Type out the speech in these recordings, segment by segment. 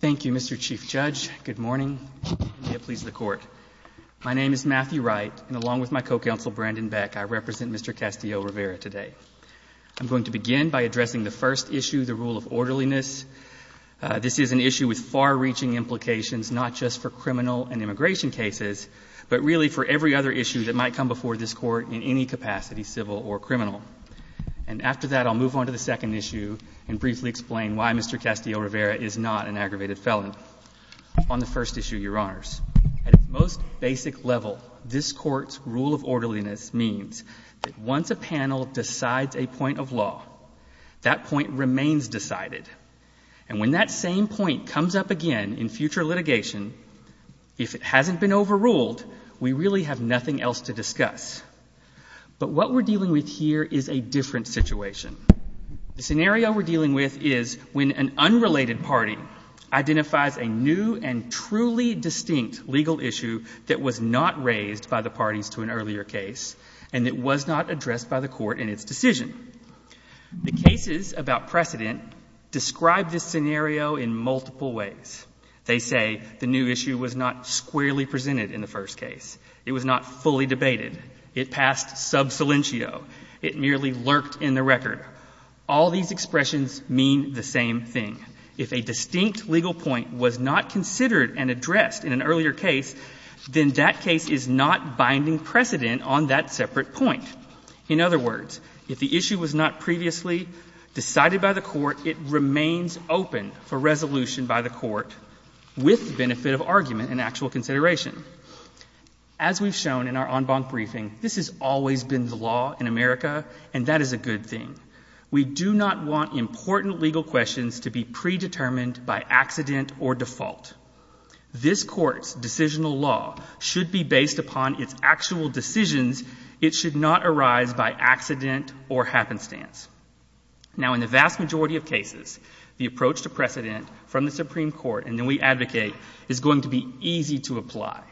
Thank you, Mr. Chief Judge. Good morning. May it please the Court. My name is Matthew Wright, and along with my co-counsel, Brandon Beck, I represent Mr. Castillo-Rivera today. I'm going to begin by addressing the first issue, the rule of orderliness. This is an issue with far-reaching implications, not just for criminal and immigration cases, but really for every other issue that might come before this Court in any capacity, civil or criminal. And after that, I'll move on to the second issue and briefly explain why Mr. Castillo-Rivera is not an aggravated felon. On the first issue, Your Honors, at its most basic level, this Court's rule of orderliness means that once a panel decides a point of law, that point remains decided. And when that same point comes up again in future litigation, if it hasn't been overruled, we really have nothing else to discuss. But what we're dealing with here is a different situation. The scenario we're dealing with is when an unrelated party identifies a new and truly distinct legal issue that was not raised by the parties to an earlier case and that was not addressed by the Court in its decision. The cases about precedent describe this scenario in multiple ways. They say the new issue was not squarely presented in the first case. It was not fully debated. It passed sub silentio. It merely lurked in the record. All these expressions mean the same thing. If a distinct legal point was not considered and addressed in an earlier case, then that case is not binding precedent on that separate point. In other words, if the issue was not previously decided by the Court, it remains open for resolution by the Court with the benefit of argument and actual consideration. As we've shown in our en banc briefing, this has always been the law in America, and that is a good thing. We do not want important legal questions to be predetermined by accident or default. This Court's decisional law should be based upon its actual decisions. It should not arise by accident or happenstance. Now, in the vast majority of cases, the approach to precedent from the Supreme Court, and then we advocate, is going to be easy to apply.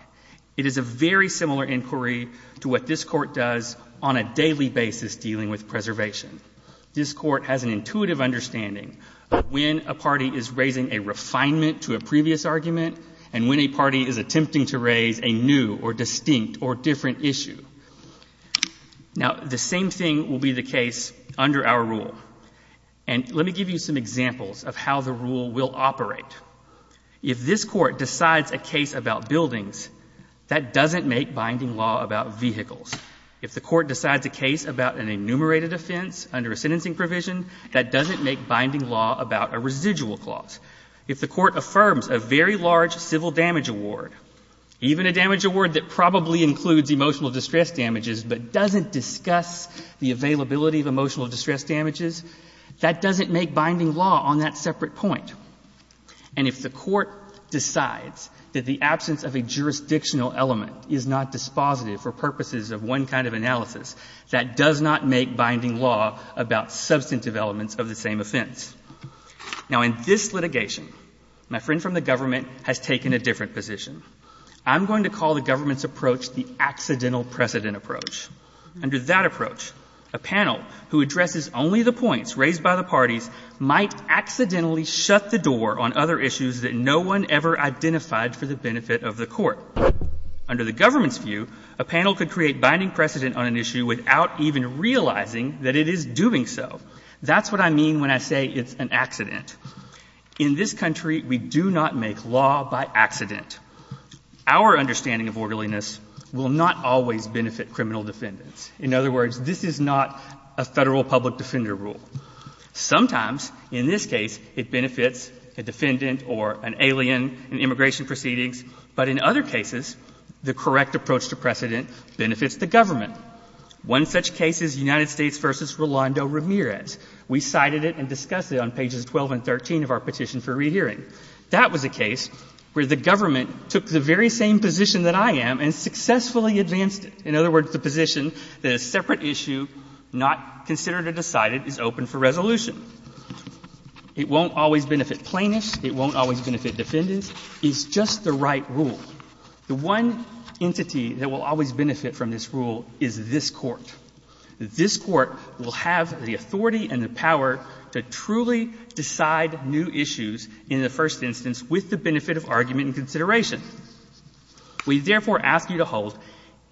It is a very similar inquiry to what this Court does on a daily basis dealing with preservation. This Court has an intuitive understanding of when a party is raising a refinement to a previous argument and when a party is attempting to raise a new or distinct or different issue. Now, the same thing will be the case under our rule. And let me give you some examples of how the rule will operate. If this Court decides a case about buildings, that doesn't make binding law about vehicles. If the Court decides a case about an enumerated offense under a sentencing provision, that doesn't make binding law about a residual clause. If the Court affirms a very large civil damage award, even a damage award that probably includes emotional distress damages but doesn't discuss the availability of emotional distress damages, that doesn't make binding law on that separate point. And if the Court decides that the absence of a jurisdictional element is not dispositive for purposes of one kind of analysis, that does not make binding law about substantive elements of the same offense. Now, in this litigation, my friend from the government has taken a different position. I'm going to call the government's approach the accidental precedent approach. Under that approach, a panel who addresses only the points raised by the parties might accidentally shut the door on other issues that no one ever identified for the benefit of the Court. Under the government's view, a panel could create binding precedent on an issue without even realizing that it is doing so. That's what I mean when I say it's an accident. In this country, we do not make law by accident. Our understanding of orderliness will not always benefit criminal defendants. In other words, this is not a Federal public defender rule. Sometimes, in this case, it benefits a defendant or an alien in immigration proceedings, but in other cases, the correct approach to precedent benefits the government. One such case is United States v. Rolando Ramirez. We cited it and discussed it on pages 12 and 13 of our Petition for Rehearing. That was a case where the government took the very same position that I am and successfully advanced it. In other words, the position that a separate issue not considered or decided is open for resolution. It won't always benefit plaintiffs. It won't always benefit defendants. It's just the right rule. The one entity that will always benefit from this rule is this Court. This Court will have the authority and the power to truly decide new issues in the first instance with the benefit of argument and consideration. We therefore ask you to hold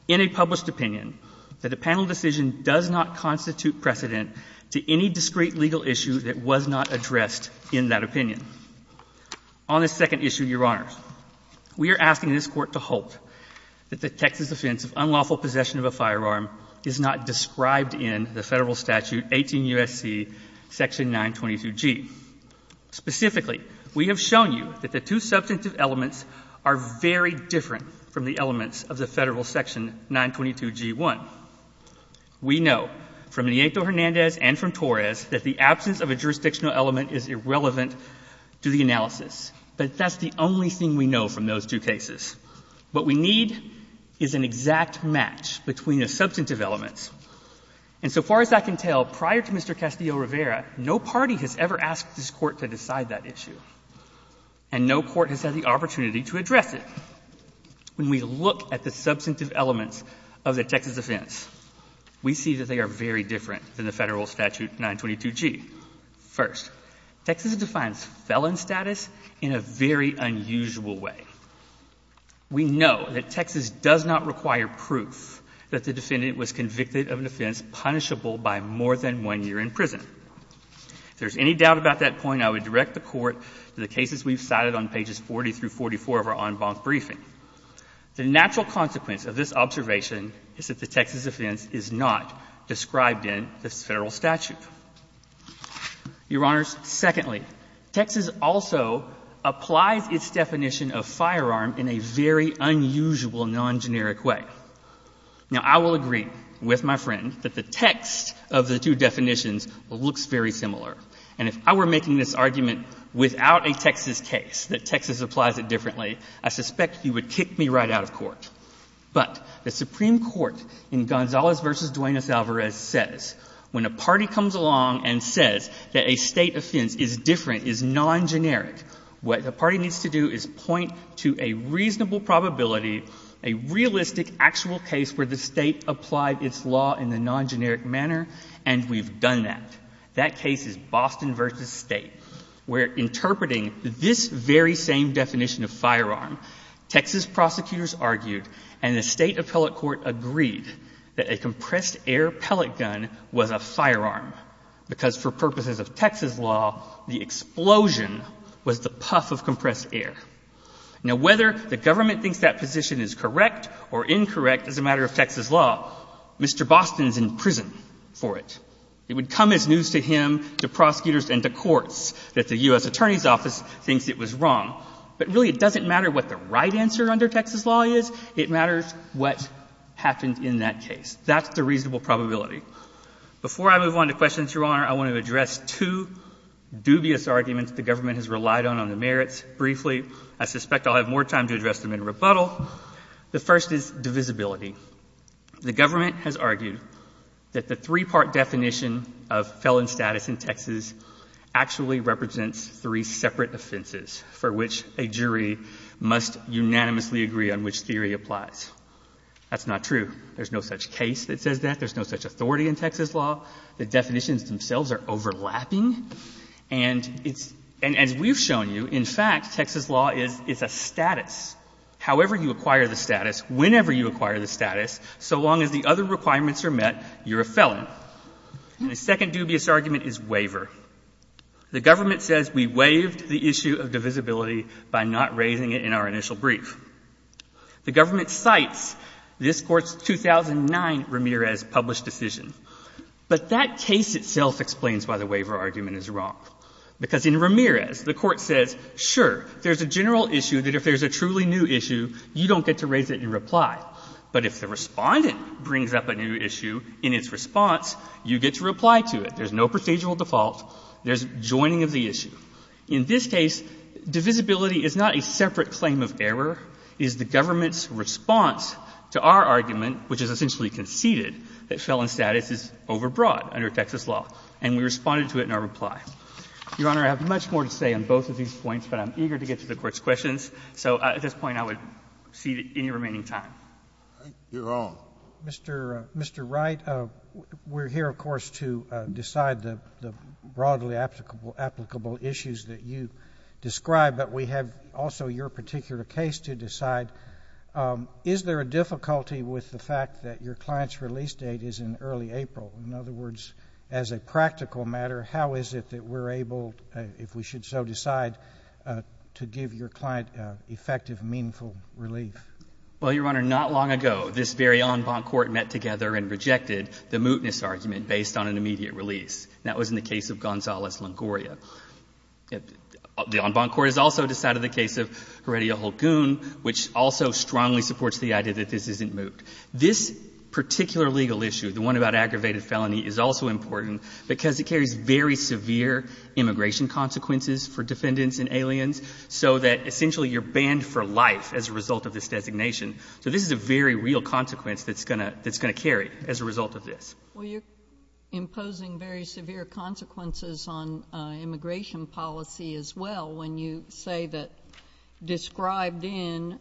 in a published opinion that a panel decision does not constitute precedent to any discrete legal issue that was not addressed in that opinion. On this second issue, Your Honors, we are asking this Court to halt that the Texas offense of unlawful possession of a firearm is not described in the Federal Statute 18 U.S.C. section 922G. Specifically, we have shown you that the two substantive elements are very different from the elements of the Federal section 922G1. We know from Nieto-Hernandez and from Torres that the absence of a jurisdictional element is irrelevant to the analysis. But that's the only thing we know from those two cases. What we need is an exact match between the substantive elements. And so far as I can tell, prior to Mr. Castillo-Rivera, no party has ever asked this Court to decide that issue. And no court has had the opportunity to address it. When we look at the substantive elements of the Texas offense, we see that they are very different than the Federal Statute 922G. First, Texas defines felon status in a very unusual way. We know that Texas does not require proof that the defendant was convicted of an offense punishable by more than one year in prison. If there's any doubt about that point, I would direct the Court to the cases we've cited on pages 40 through 44 of our en banc briefing. The natural consequence of this observation is that the Texas offense is not described in the Federal Statute. Your Honors, secondly, Texas also applies its definition of firearm in a very unusual, non-generic way. Now, I will agree with my friend that the text of the two definitions looks very similar. And if I were making this argument without a Texas case, that Texas applies it differently, I suspect you would kick me right out of court. But the Supreme Court in Gonzalez v. Duenas-Alvarez says when a party comes along and says that a State offense is different, is non-generic, what the party needs to do is point to a reasonable probability, a realistic, actual case where the State applied its law in a non-generic manner, and we've done that. That case is Boston v. State, where interpreting this very same definition of firearm, Texas prosecutors argued and the State Appellate Court agreed that a compressed air pellet gun was a firearm, because for purposes of Texas law, the explosion was the puff of compressed air. Now, whether the government thinks that position is correct or incorrect as a matter of Texas law, Mr. Boston is in prison for it. It would come as news to him, to prosecutors, and to courts that the U.S. Attorney's Office thinks it was wrong. But really, it doesn't matter what the right answer under Texas law is. It matters what happened in that case. That's the reasonable probability. Before I move on to questions, Your Honor, I want to address two dubious arguments the government has relied on on the merits. Briefly, I suspect I'll have more time to address them in rebuttal. The first is divisibility. The government has argued that the three-part definition of felon status in Texas actually represents three separate offenses, for which a jury must unanimously agree on which theory applies. That's not true. There's no such case that says that. There's no such authority in Texas law. The definitions themselves are overlapping, and as we've shown you, in fact, Texas law is a status. However you acquire the status, whenever you acquire the status, so long as the other requirements are met, you're a felon. The second dubious argument is waiver. The government says we waived the issue of divisibility by not raising it in our initial brief. The government cites this Court's 2009 Ramirez published decision. But that case itself explains why the waiver argument is wrong. Because in Ramirez, the Court says, sure, there's a general issue that if there's a truly new issue, you don't get to raise it in reply. But if the respondent brings up a new issue in its response, you get to reply to it. There's no procedural default. There's joining of the issue. In this case, divisibility is not a separate claim of error. It is the government's response to our argument, which is essentially conceded, that felon status is overbroad under Texas law. And we responded to it in our reply. Your Honor, I have much more to say on both of these points, but I'm eager to get to the Court's questions. So at this point, I would cede any remaining time. Mr. Wright, we're here, of course, to decide the broadly applicable issues that you described. But we have also your particular case to decide. Is there a difficulty with the fact that your client's release date is in early April? In other words, as a practical matter, how is it that we're able, if we should so decide, to give your client effective, meaningful relief? Well, Your Honor, not long ago, this very en banc court met together and rejected the mootness argument based on an immediate release. That was in the case of Gonzalez-Longoria. The en banc court has also decided the case of Heredia-Hulgoon, which also strongly supports the idea that this isn't moot. This particular legal issue, the one about aggravated felony, is also important, because it carries very severe immigration consequences for defendants and aliens, so that essentially you're banned for life as a result of this designation. So this is a very real consequence that's going to carry as a result of this. Well, you're imposing very severe consequences on immigration policy as well when you say that described in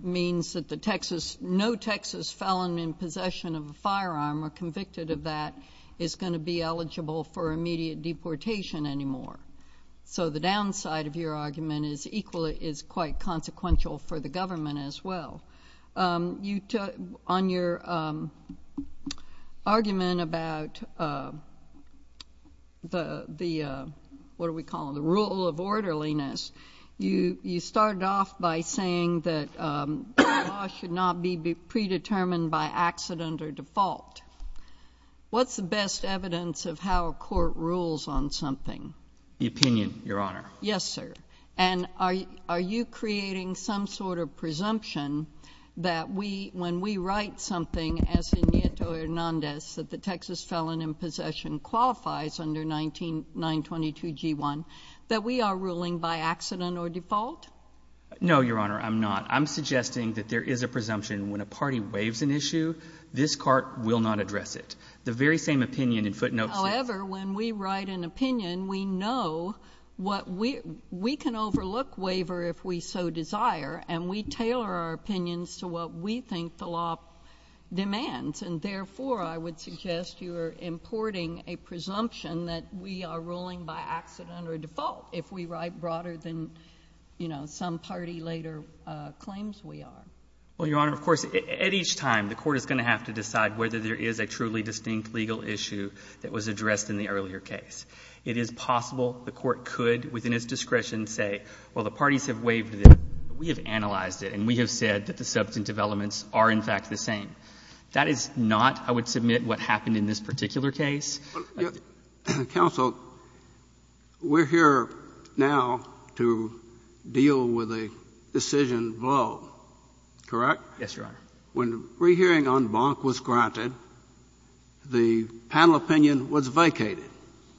means that no Texas felon in possession of a firearm or convicted of that is going to be eligible for immediate deportation anymore. So the downside of your argument is quite consequential for the government as well. On your argument about the rule of orderliness, you started off by saying that law should not be predetermined by accident or default. What's the best evidence of how a court rules on something? The opinion, Your Honor. Yes, sir. And are you creating some sort of presumption that when we write something as in Nieto Hernandez that the Texas felon in possession qualifies under 922G1 that we are ruling by accident or default? No, Your Honor, I'm not. I'm suggesting that there is a presumption when a party waives an issue, this court will not address it. The very same opinion in footnotes is— We can overlook waiver if we so desire, and we tailor our opinions to what we think the law demands. And therefore, I would suggest you are importing a presumption that we are ruling by accident or default if we write broader than, you know, some party later claims we are. Well, Your Honor, of course, at each time, the court is going to have to decide whether there is a truly distinct legal issue that was addressed in the earlier case. It is possible the court could, within its discretion, say, well, the parties have waived it, we have analyzed it, and we have said that the substantive elements are, in fact, the same. That is not, I would submit, what happened in this particular case. Counsel, we're here now to deal with a decision blow, correct? Yes, Your Honor. When the rehearing on Bonk was granted, the panel opinion was vacated.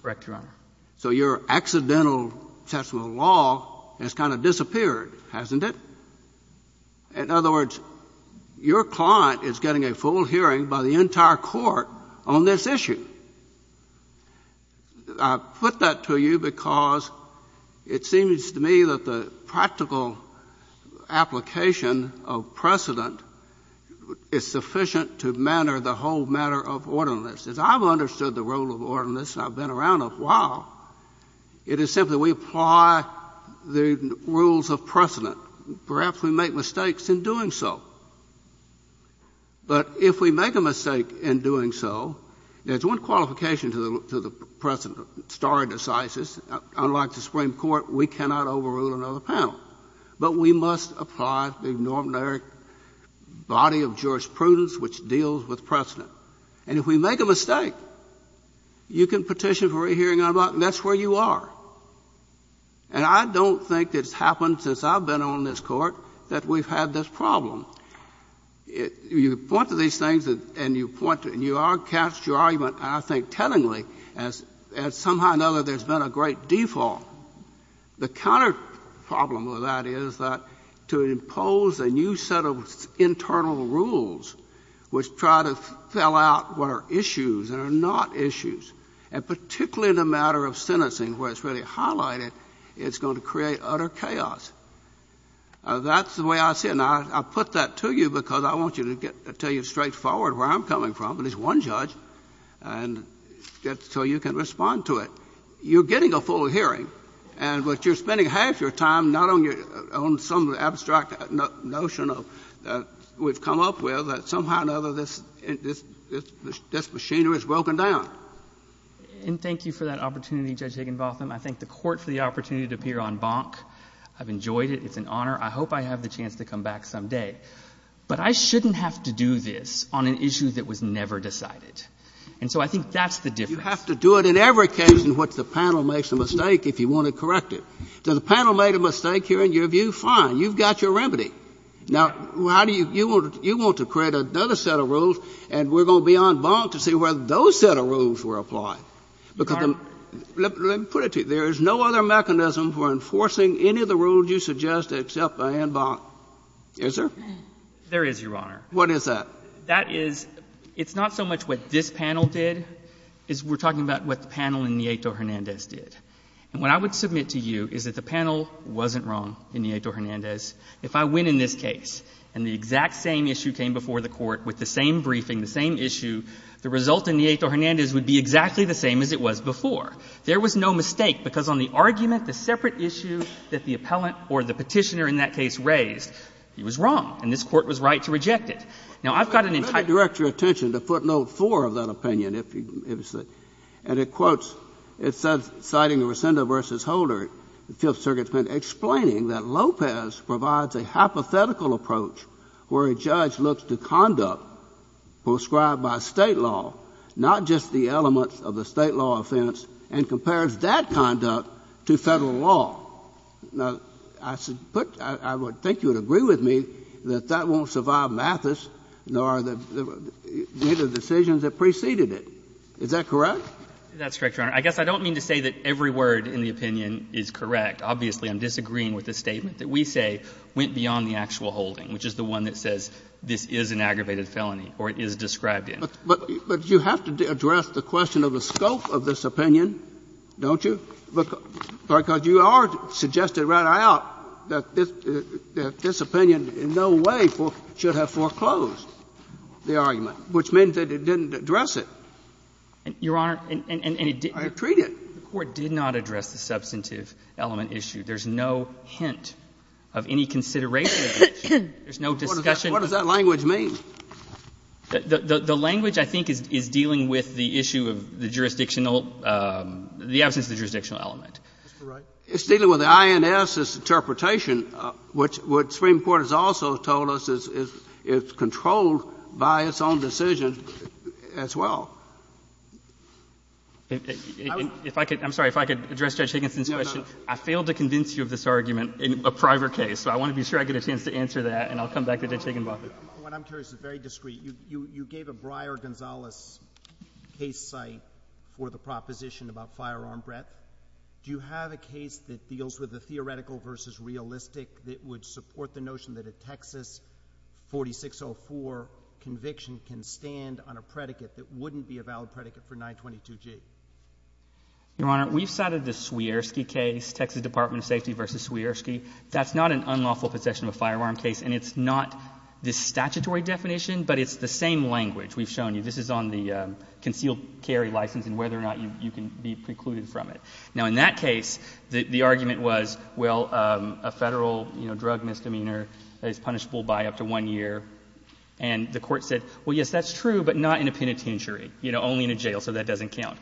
Correct, Your Honor. So your accidental assessment of the law has kind of disappeared, hasn't it? In other words, your client is getting a full hearing by the entire court on this issue. I put that to you because it seems to me that the practical application of precedent is sufficient to manner the whole matter of ordinance. As I've understood the role of ordinance, and I've been around a while, it is simply we apply the rules of precedent. Perhaps we make mistakes in doing so. But if we make a mistake in doing so, there's one qualification to the precedent, stare decisis. Unlike the Supreme Court, we cannot overrule another panel. But we must apply the normative body of jurisprudence which deals with precedent. And if we make a mistake, you can petition for a hearing on Bonk, and that's where you are. And I don't think it's happened since I've been on this Court that we've had this problem. You point to these things and you point to it, and you are cast your argument, I think, tellingly, as somehow or another there's been a great default. The counterproblem of that is that to impose a new set of internal rules which try to fill out what are issues and are not issues, and particularly in a matter of sentencing where it's really highlighted, it's going to create utter chaos. That's the way I see it. Now, I put that to you because I want you to get to tell you straightforward where I'm coming from, and it's one judge, and so you can respond to it. You're getting a full hearing, but you're spending half your time not on some abstract notion of we've come up with that somehow or another this machinery is broken down. And thank you for that opportunity, Judge Higginbotham. I thank the Court for the opportunity to appear on Bonk. I've enjoyed it. It's an honor. I hope I have the chance to come back someday. But I shouldn't have to do this on an issue that was never decided. And so I think that's the difference. You have to do it in every case in which the panel makes a mistake if you want to correct it. Does the panel make a mistake here in your view? Fine. You've got your remedy. Now, you want to create another set of rules, and we're going to be on Bonk to see whether those set of rules were applied. Let me put it to you. There is no other mechanism for enforcing any of the rules you suggest except by hand bonk. Is there? There is, Your Honor. What is that? That is, it's not so much what this panel did as we're talking about what the panel in Nieto-Hernandez did. And what I would submit to you is that the panel wasn't wrong in Nieto-Hernandez. If I win in this case and the exact same issue came before the Court with the same briefing, the same issue, the result in Nieto-Hernandez would be exactly the same as it was before. There was no mistake, because on the argument, the separate issue that the appellant or the Petitioner in that case raised, he was wrong, and this Court was right to reject it. Now, I've got an entire — I've got an entire article in the Fifth Circuit, citing the Rosendo v. Holder, Fifth Circuit's opinion, explaining that Lopez provides a hypothetical approach where a judge looks to conduct prescribed by State law, not just the elements of the State law offense, and compares that conduct to Federal law. Now, I would think you would agree with me that that won't survive Mathis, nor the decisions that preceded it. Is that correct? That's correct, Your Honor. I guess I don't mean to say that every word in the opinion is correct. Obviously, I'm disagreeing with the statement that we say went beyond the actual holding, which is the one that says this is an aggravated felony or it is described in. But you have to address the question of the scope of this opinion, don't you? Because you are suggesting right out that this opinion in no way should have foreclosed the argument, which means that it didn't address it. Your Honor, and it didn't. I treat it. The Court did not address the substantive element issue. There's no hint of any consideration of it. There's no discussion. What does that language mean? The language, I think, is dealing with the issue of the jurisdictional the absence of the jurisdictional element. That's correct. It's dealing with the INS's interpretation, which what the Supreme Court has also told us is controlled by its own decision as well. If I could, I'm sorry, if I could address Judge Higginson's question. I failed to convince you of this argument in a private case. So I want to be sure I get a chance to answer that, and I'll come back to Judge Higginson about that. What I'm curious is very discreet. You gave a Breyer-Gonzalez case site for the proposition about firearm breath. Do you have a case that deals with the theoretical versus realistic that would support the notion that a Texas 4604 conviction can stand on a predicate that wouldn't be a valid predicate for 922G? Your Honor, we've cited the Swierski case, Texas Department of Safety versus Swierski. That's not an unlawful possession of a firearm case, and it's not the statutory definition, but it's the same language we've shown you. This is on the concealed carry license and whether or not you can be precluded from it. Now, in that case, the argument was, well, a federal, you know, drug misdemeanor that is punishable by up to one year, and the court said, well, yes, that's true, but not in a penitentiary, you know, only in a jail, so that doesn't count.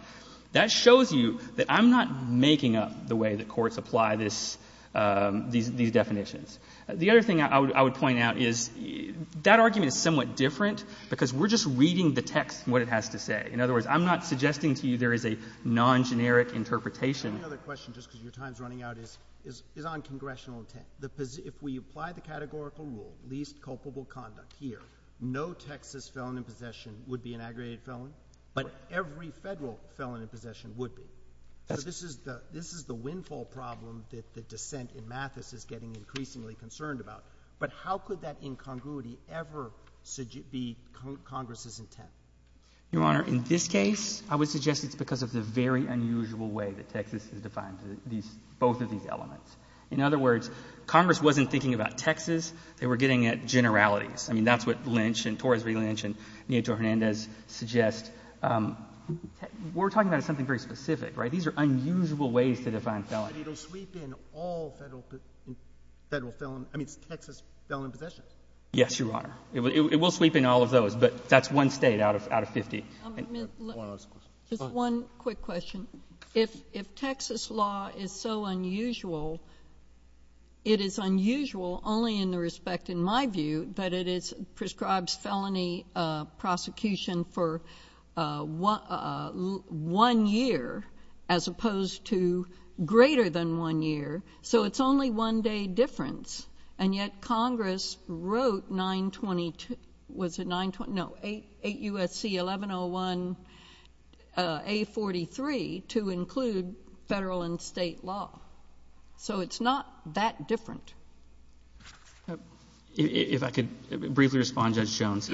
That shows you that I'm not making up the way that courts apply this – these definitions. The other thing I would point out is that argument is somewhat different because we're just reading the text and what it has to say. In other words, I'm not suggesting to you there is a non-generic interpretation. Another question, just because your time is running out, is on congressional intent. If we apply the categorical rule, least culpable conduct here, no Texas felon in possession would be an aggravated felon, but every federal felon in possession would be. So this is the windfall problem that the dissent in Mathis is getting increasingly concerned about. But how could that incongruity ever be Congress's intent? Your Honor, in this case, I would suggest it's because of the very unusual way that Texas has defined these – both of these elements. In other words, Congress wasn't thinking about Texas. They were getting at generalities. I mean, that's what Lynch and – Torres-Reed Lynch and Nieto Hernandez suggest. We're talking about something very specific, right? These are unusual ways to define felon. But it will sweep in all federal felon – I mean, Texas felon in possession. Yes, Your Honor. It will sweep in all of those, but that's one state out of 50. Just one quick question. If Texas law is so unusual, it is unusual only in the respect, in my view, that it prescribes felony prosecution for one year as opposed to greater than one year. So it's only one day difference. And yet Congress wrote 920 – was it 920? No, 8 U.S.C. 1101 A43 to include federal and state law. So it's not that different. If I could briefly respond, Judge Jones.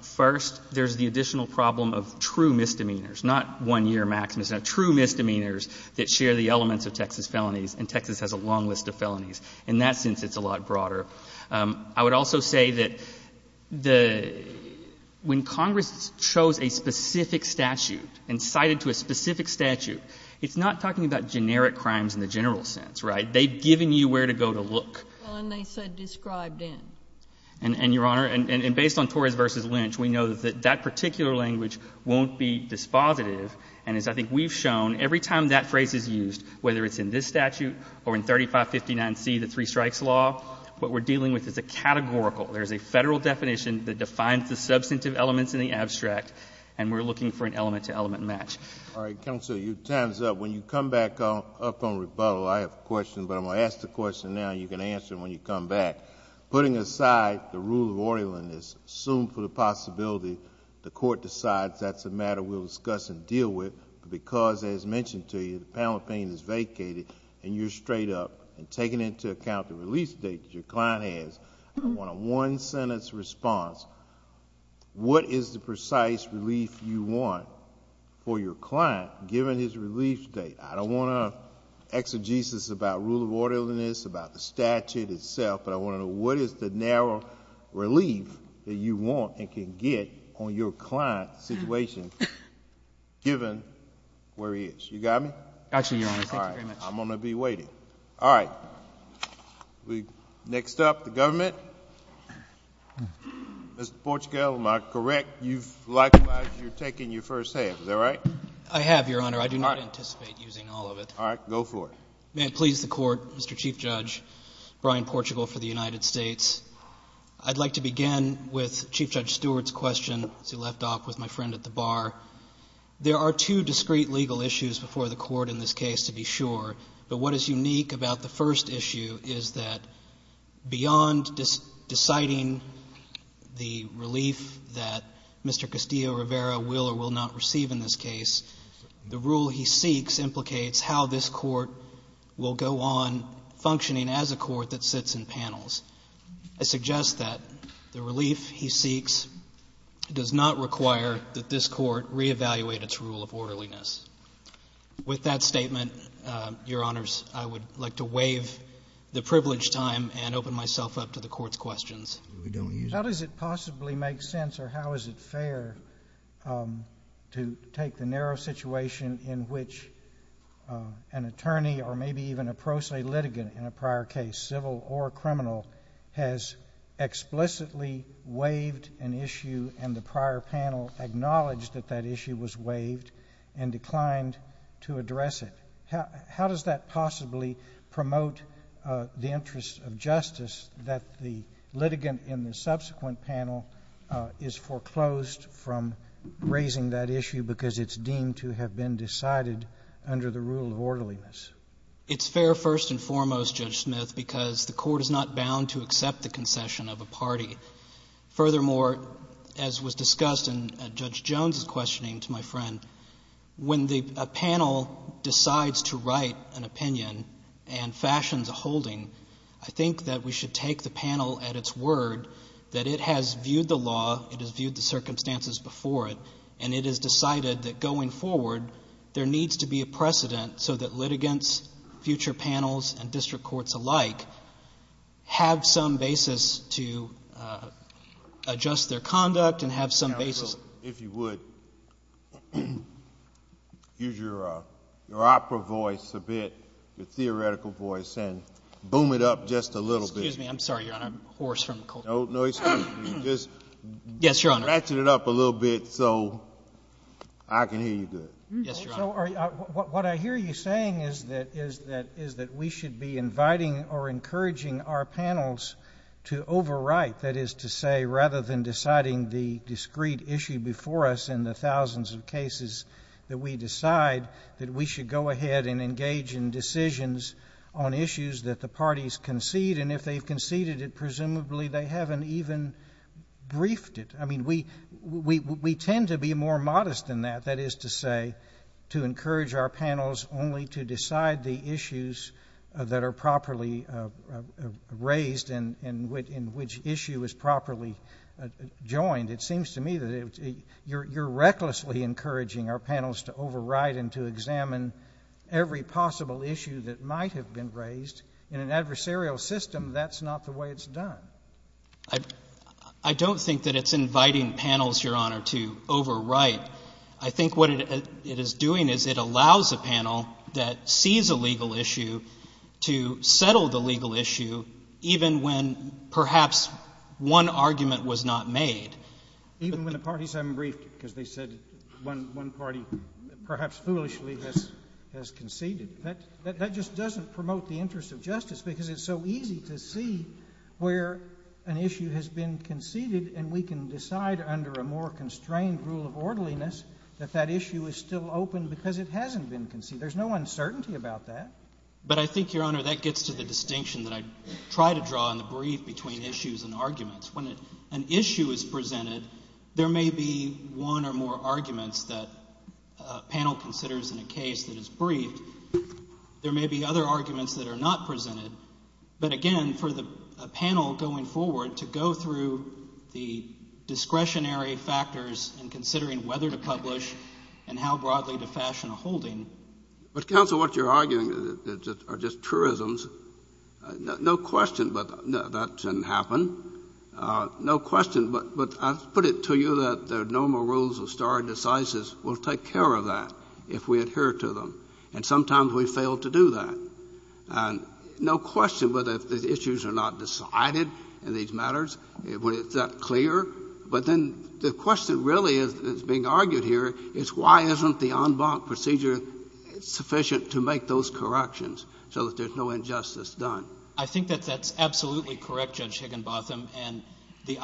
First, there's the additional problem of true misdemeanors, not one-year maxims. Now, true misdemeanors that share the elements of Texas felonies, and Texas has a long list of felonies. In that sense, it's a lot broader. I would also say that when Congress chose a specific statute and cited to a specific statute, it's not talking about generic crimes in the general sense, right? They've given you where to go to look. And they said described in. And, Your Honor, based on Torres v. Lynch, we know that that particular language won't be dispositive. And as I think we've shown, every time that phrase is used, whether it's in this statute or in 3559C, the three-strikes law, what we're dealing with is a categorical. There's a federal definition that defines the substantive elements in the abstract, and we're looking for an element-to-element match. All right. Counsel, your time's up. When you come back up on rebuttal, I have a question, but I'm going to ask the question now, and you can answer it when you come back. Putting aside the rule of orderliness, assumed for the possibility the court decides that's a matter we'll discuss and deal with, because, as mentioned to you, the panel opinion is vacated and you're straight up, and taking into account the relief state that your client has, I want a one-sentence response. What is the precise relief you want for your client, given his relief state? I don't want to exegesis about rule of orderliness, about the statute itself, but I want to know what is the narrow relief that you want and can get on your client's situation, given where he is. You got me? Actually, Your Honor, thank you very much. All right. I'm going to be waiting. All right. Next up, the government. Mr. Portugal, am I correct? You've likewise taken your first half. Is that right? I have, Your Honor. I do not anticipate using all of it. All right. Go for it. May it please the Court, Mr. Chief Judge, Brian Portugal for the United States. I'd like to begin with Chief Judge Stewart's question, as he left off with my friend at the bar. There are two discrete legal issues before the Court in this case, to be sure, but what is unique about the first issue is that beyond deciding the relief that Mr. Castillo-Rivera will or will not receive in this case, the rule he seeks implicates how this Court will go on functioning as a Court that sits in panels. I suggest that the relief he seeks does not require that this Court re-evaluate its rule of orderliness. With that statement, Your Honors, I would like to waive the privileged time and open myself up to the Court's questions. How does it possibly make sense or how is it fair to take the narrow situation in which an attorney or maybe even a pro se litigant in a prior case, civil or criminal, has explicitly waived an issue and the prior panel acknowledged that that issue was waived and declined to address it? How does that possibly promote the interest of justice that the litigant in the subsequent panel is foreclosed from raising that issue because it's deemed to have been decided under the rule of orderliness? It's fair first and foremost, Judge Smith, because the Court is not bound to accept the concession of a party. Furthermore, as was discussed in Judge Jones' questioning to my friend, when a panel decides to write an opinion and fashions a holding, I think that we should take the panel at its word that it has viewed the law, it has viewed the circumstances before it, and it has decided that going forward there needs to be a precedent so that litigants, future panels, and district courts alike have some basis to adjust their conduct and have some basis. If you would use your opera voice a bit, your theoretical voice, and boom it up just a little bit. Excuse me. I'm sorry, Your Honor. I'm hoarse from the cold. No, excuse me. Just ratchet it up a little bit so I can hear you good. Yes, Your Honor. What I hear you saying is that we should be inviting or encouraging our panels to overwrite, that is to say, rather than deciding the discrete issue before us in the thousands of cases that we decide, that we should go ahead and engage in decisions on issues that the parties concede, and if they've conceded it, presumably they haven't even briefed it. I mean, we tend to be more modest than that, that is to say, to encourage our panels only to decide the issues that are properly raised and which issue is properly joined. It seems to me that you're recklessly encouraging our panels to overwrite and to examine every possible issue that might have been raised. In an adversarial system, that's not the way it's done. I don't think that it's inviting panels, Your Honor, to overwrite. I think what it is doing is it allows a panel that sees a legal issue to settle the legal issue, even when perhaps one argument was not made. Even when the parties haven't briefed it because they said one party perhaps foolishly has conceded. That just doesn't promote the interest of justice because it's so easy to see where an issue has been conceded and we can decide under a more constrained rule of orderliness that that issue is still open because it hasn't been conceded. There's no uncertainty about that. But I think, Your Honor, that gets to the distinction that I try to draw in the brief between issues and arguments. When an issue is presented, there may be one or more arguments that a panel considers in a case that is briefed. There may be other arguments that are not presented. But, again, for the panel going forward to go through the discretionary factors in considering whether to publish and how broadly to fashion a holding. But, counsel, what you're arguing are just truisms. No question that that can happen. No question, but I'll put it to you that the normal rules of stare decisis will take care of that if we adhere to them, and sometimes we fail to do that. No question whether the issues are not decided in these matters when it's that clear, but then the question really that's being argued here is why isn't the en banc procedure sufficient to make those corrections so that there's no injustice done? I think that that's absolutely correct, Judge Higginbotham, and the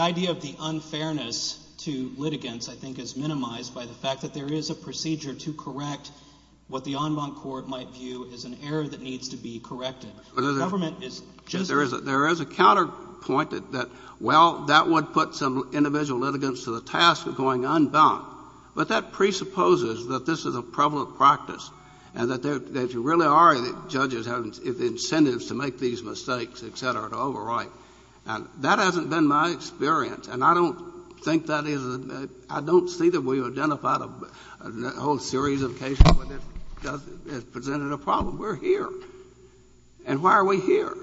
idea of the unfairness to litigants, I think, is minimized by the fact that there is a procedure to correct what the en banc court might view as an error that needs to be corrected. Government is just... There is a counterpoint that, well, that would put some individual litigants to the task of going en banc, but that presupposes that this is a prevalent practice and that there really are judges who have incentives to make these mistakes, et cetera, to overwrite. Now, that hasn't been my experience, and I don't think that is... I don't see that we've identified a whole series of cases where this has presented a problem. We're here. And why are we here?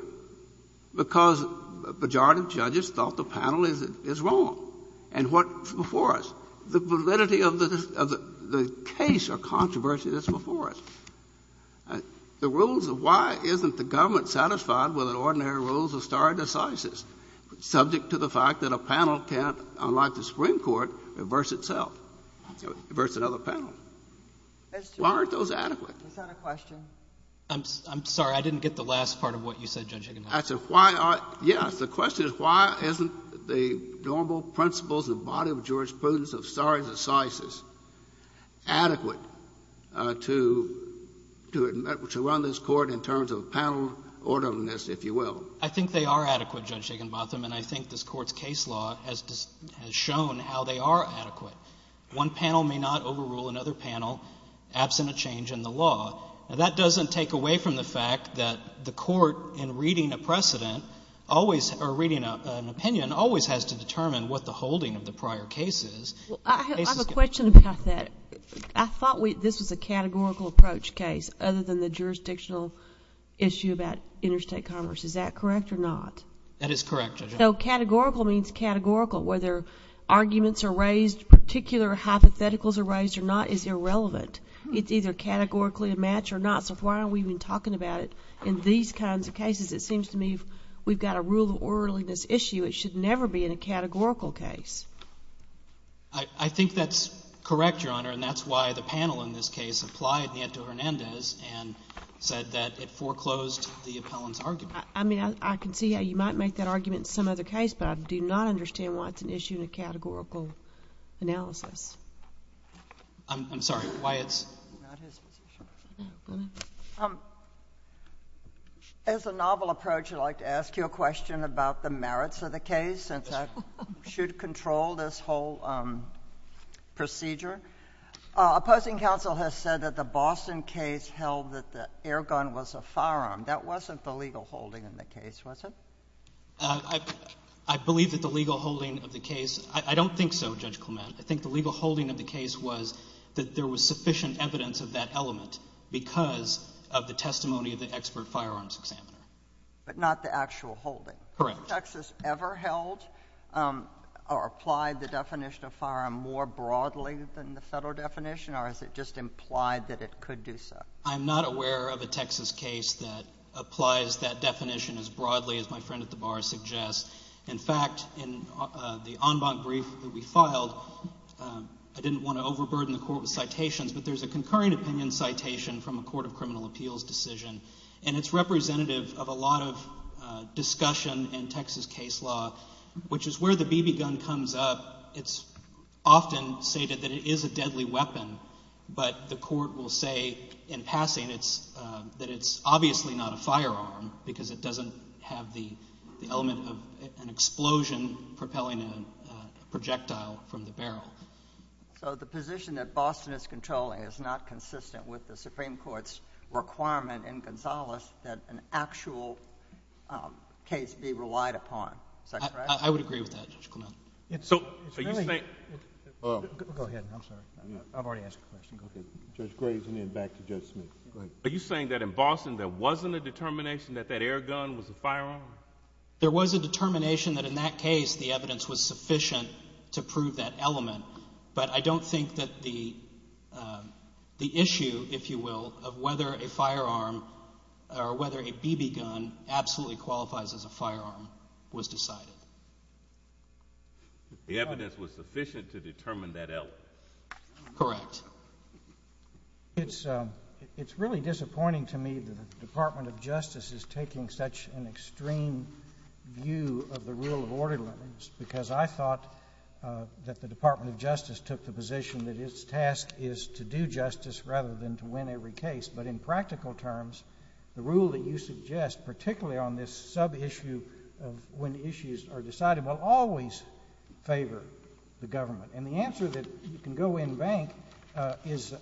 Because a majority of judges thought the panel is wrong. And what's before us? The validity of the case or controversy that's before us. The rules of why isn't the government satisfied with the ordinary rules of stare decisis, subject to the fact that a panel can't, unlike the Supreme Court, reverse itself, reverse another panel. Why aren't those adequate? Is that a question? I'm sorry. I didn't get the last part of what you said, Judge Higginbotham. Yes, the question is why isn't the normal principles and body of jurisprudence of stare decisis adequate to run this Court in terms of panel orderliness, if you will? I think they are adequate, Judge Higginbotham, and I think this Court's case law has shown how they are adequate. One panel may not overrule another panel, absent a change in the law. Now, that doesn't take away from the fact that the Court, in reading a precedent, or reading an opinion, always has to determine what the holding of the prior case is. I have a question about that. I thought this was a categorical approach case, other than the jurisdictional issue about interstate commerce. Is that correct or not? That is correct, Judge Higginbotham. So categorical means categorical. Whether arguments are raised, particular hypotheticals are raised or not is irrelevant. It's either categorically a match or not. So why are we even talking about it in these kinds of cases? It seems to me we've got a rule of orderliness issue. It should never be in a categorical case. I think that's correct, Your Honor, and that's why the panel in this case applied Nianto-Hernandez and said that it foreclosed the appellant's argument. I mean, I can see how you might make that argument in some other case, but I do not understand why it's an issue in a categorical analysis. I'm sorry. Why it's— It's not his position. Go ahead. As a novel approach, I'd like to ask you a question about the merits of the case, since I should control this whole procedure. Opposing counsel has said that the Boston case held that the air gun was a firearm. That wasn't the legal holding in the case, was it? I believe that the legal holding of the case—I don't think so, Judge Clement. I think the legal holding of the case was that there was sufficient evidence of that element because of the testimony of the expert firearms examiner. But not the actual holding. Correct. Has Texas ever held or applied the definition of firearm more broadly than the federal definition, or is it just implied that it could do so? I'm not aware of a Texas case that applies that definition as broadly as my friend at the bar suggests. In fact, in the en banc brief that we filed, I didn't want to overburden the court with citations, but there's a concurring opinion citation from a court of criminal appeals decision, and it's representative of a lot of discussion in Texas case law, which is where the BB gun comes up. It's often stated that it is a deadly weapon, but the court will say in passing that it's obviously not a firearm because it doesn't have the element of an explosion propelling a projectile from the barrel. So the position that Boston is controlling is not consistent with the Supreme Court's requirement in Gonzales that an actual case be relied upon. Is that correct? I would agree with that, Judge Clement. Go ahead. I'm sorry. I've already asked a question. Okay. Judge Graves, and then back to Judge Smith. Go ahead. Are you saying that in Boston there wasn't a determination that that air gun was a firearm? There was a determination that in that case the evidence was sufficient to prove that element, but I don't think that the issue, if you will, of whether a firearm or whether a BB gun absolutely qualifies as a firearm was decided. The evidence was sufficient to determine that element. Correct. It's really disappointing to me that the Department of Justice is taking such an extreme view of the rule of order limits because I thought that the Department of Justice took the position that its task is to do justice rather than to win every case. But in practical terms, the rule that you suggest, particularly on this sub-issue of when issues are decided, will always favor the government. And the answer that you can go in bank is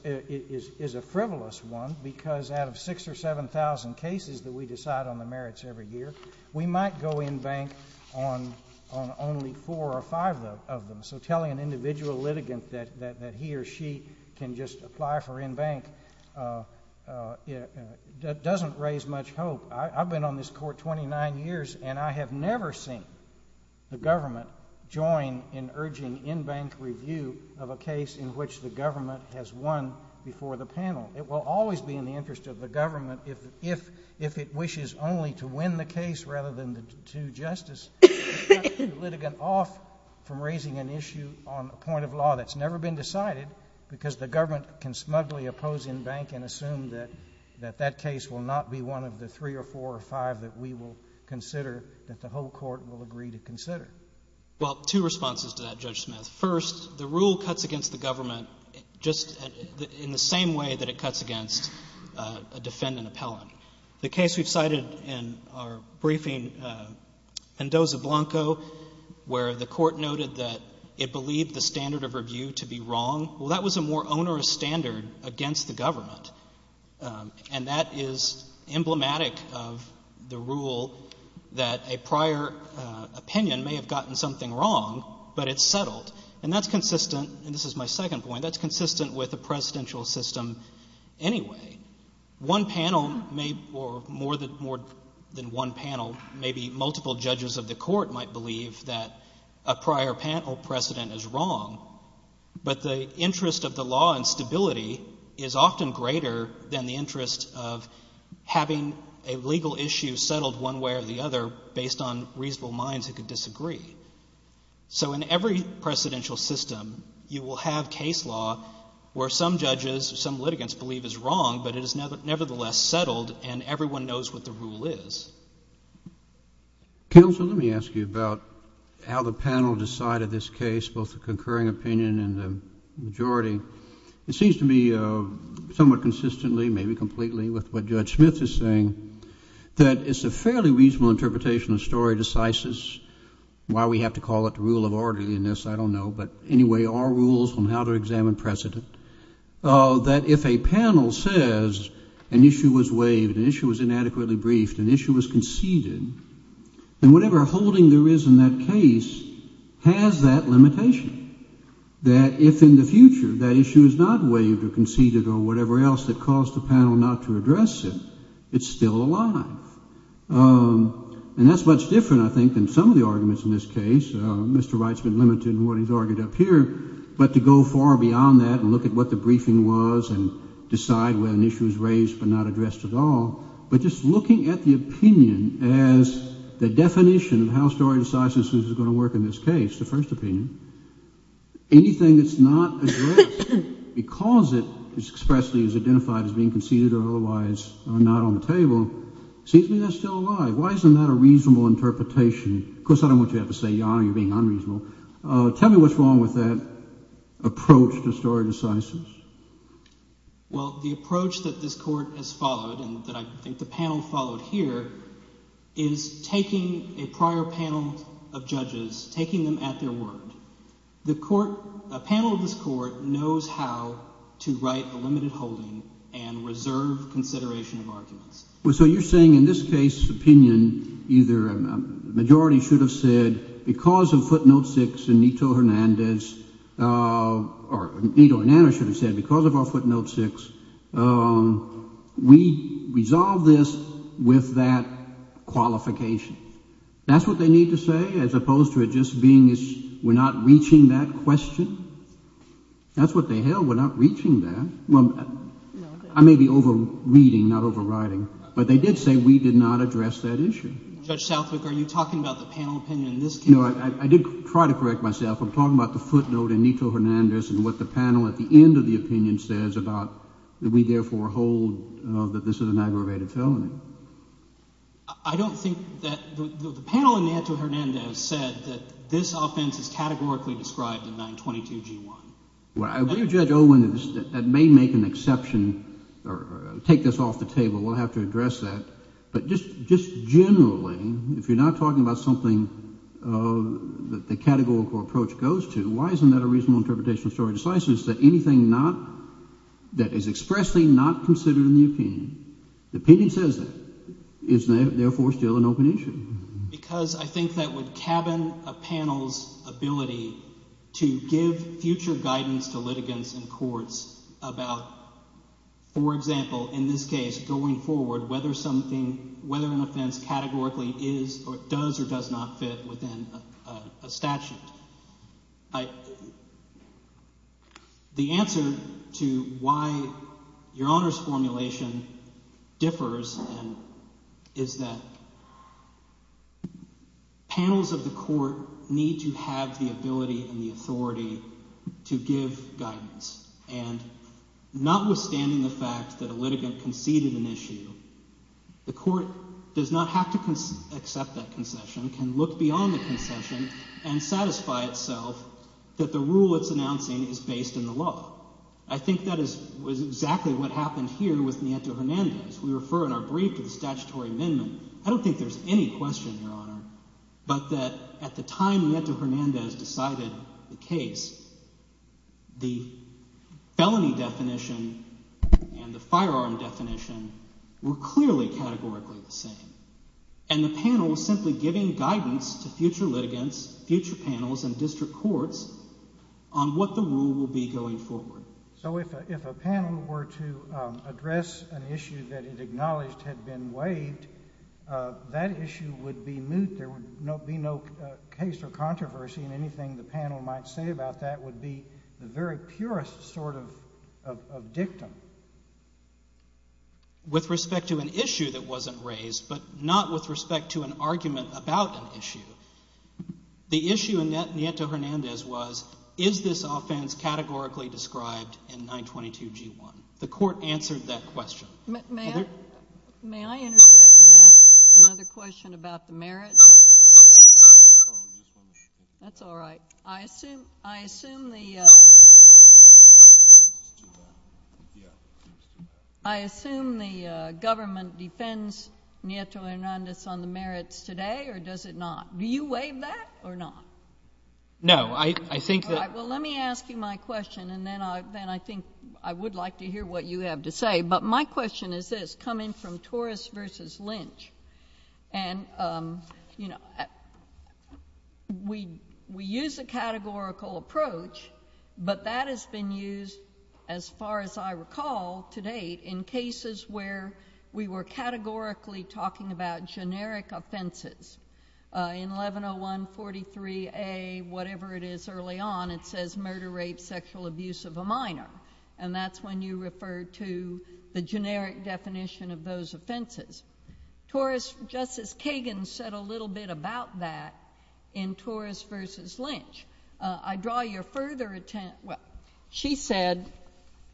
a frivolous one because out of 6,000 or 7,000 cases that we decide on the merits every year, we might go in bank on only four or five of them. So telling an individual litigant that he or she can just apply for in bank doesn't raise much hope. I've been on this Court 29 years, and I have never seen the government join in urging in bank review of a case in which the government has won before the panel. It will always be in the interest of the government if it wishes only to win the case rather than to do justice. It shuts the litigant off from raising an issue on a point of law that's never been decided because the government can smugly oppose in bank and assume that that case will not be one of the three or four or five that we will consider, that the whole Court will agree to consider. Well, two responses to that, Judge Smith. First, the rule cuts against the government just in the same way that it cuts against a defendant appellant. The case we've cited in our briefing, Endoza-Blanco, where the Court noted that it believed the standard of review to be wrong, well, that was a more onerous standard against the government. And that is emblematic of the rule that a prior opinion may have gotten something wrong, but it's settled. And that's consistent, and this is my second point, that's consistent with the presidential system anyway. One panel may, or more than one panel, maybe multiple judges of the Court might believe that a prior panel precedent is wrong, but the interest of the law and stability is often greater than the interest of having a legal issue settled one way or the other based on reasonable minds that could disagree. So in every presidential system, you will have case law where some judges, some litigants believe is wrong, but it is nevertheless settled and everyone knows what the rule is. Counsel, let me ask you about how the panel decided this case, both the concurring opinion and the majority. It seems to me somewhat consistently, maybe completely, with what Judge Smith is saying, that it's a fairly reasonable interpretation of story decisis, why we have to call it the rule of orderliness, I don't know, but anyway, our rules on how to examine precedent, that if a panel says an issue was waived, an issue was inadequately briefed, an issue was conceded, then whatever holding there is in that case has that limitation, that if in the future that issue is not waived or conceded or whatever else that caused the panel not to address it, it's still alive. And that's much different, I think, than some of the arguments in this case. Mr. Wright's been limited in what he's argued up here, but to go far beyond that and look at what the briefing was and decide when an issue was raised but not addressed at all, but just looking at the opinion as the definition of how story decisis is going to work in this case, the first opinion, anything that's not addressed because it expressly is identified as being conceded or otherwise not on the table, it seems to me that's still alive. Why isn't that a reasonable interpretation? Of course, I don't want you to have to say, Your Honor, you're being unreasonable. Tell me what's wrong with that approach to story decisis. Well, the approach that this court has followed and that I think the panel followed here is taking a prior panel of judges, taking them at their word. The panel of this court knows how to write a limited holding and reserve consideration of arguments. So you're saying in this case opinion either a majority should have said because of footnote 6 in Nito Hernandez or Nito Hernandez should have said because of our footnote 6, we resolve this with that qualification. That's what they need to say as opposed to it just being we're not reaching that question? That's what they held, we're not reaching that. I may be over-reading, not overriding, but they did say we did not address that issue. Judge Southwick, are you talking about the panel opinion in this case? I did try to correct myself. I'm talking about the footnote in Nito Hernandez and what the panel at the end of the opinion says about we therefore hold that this is an aggravated felony. I don't think that the panel in Nito Hernandez said that this offense is categorically described in 922G1. Well, I agree with Judge Olin that that may make an exception or take this off the table. We'll have to address that. But just generally, if you're not talking about something that the categorical approach goes to, why isn't that a reasonable interpretation of story decisiveness that anything not – that is expressly not considered in the opinion, the opinion says that, is therefore still an open issue? Because I think that would cabin a panel's ability to give future guidance to litigants and courts about, for example, in this case going forward, whether something – whether an offense categorically is or does or does not fit within a statute. The answer to why your Honor's formulation differs is that panels of the court need to have the ability and the authority to give guidance. And notwithstanding the fact that a litigant conceded an issue, the court does not have to accept that concession, can look beyond the concession and satisfy itself that the rule it's announcing is based in the law. I think that is exactly what happened here with Nito Hernandez. We refer in our brief to the statutory amendment. I don't think there's any question, Your Honor, but that at the time Nito Hernandez decided the case, the felony definition and the firearm definition were clearly categorically the same. And the panel was simply giving guidance to future litigants, future panels, and district courts on what the rule will be going forward. So if a panel were to address an issue that it acknowledged had been waived, that issue would be moot. There would be no case or controversy, and anything the panel might say about that would be the very purest sort of dictum. With respect to an issue that wasn't raised, but not with respect to an argument about an issue, the issue in Nito Hernandez was, is this offense categorically described in 922G1? The court answered that question. May I interject and ask another question about the merits? That's all right. I assume the government defends Nito Hernandez on the merits today, or does it not? Do you waive that or not? No. All right. Well, let me ask you my question, and then I think I would like to hear what you have to say. But my question is this, coming from Torres v. Lynch, and we use a categorical approach, but that has been used, as far as I recall to date, in cases where we were categorically talking about generic offenses. In 110143A, whatever it is early on, it says murder, rape, sexual abuse of a minor. And that's when you refer to the generic definition of those offenses. Justice Kagan said a little bit about that in Torres v. Lynch. I draw your further attention, well, she said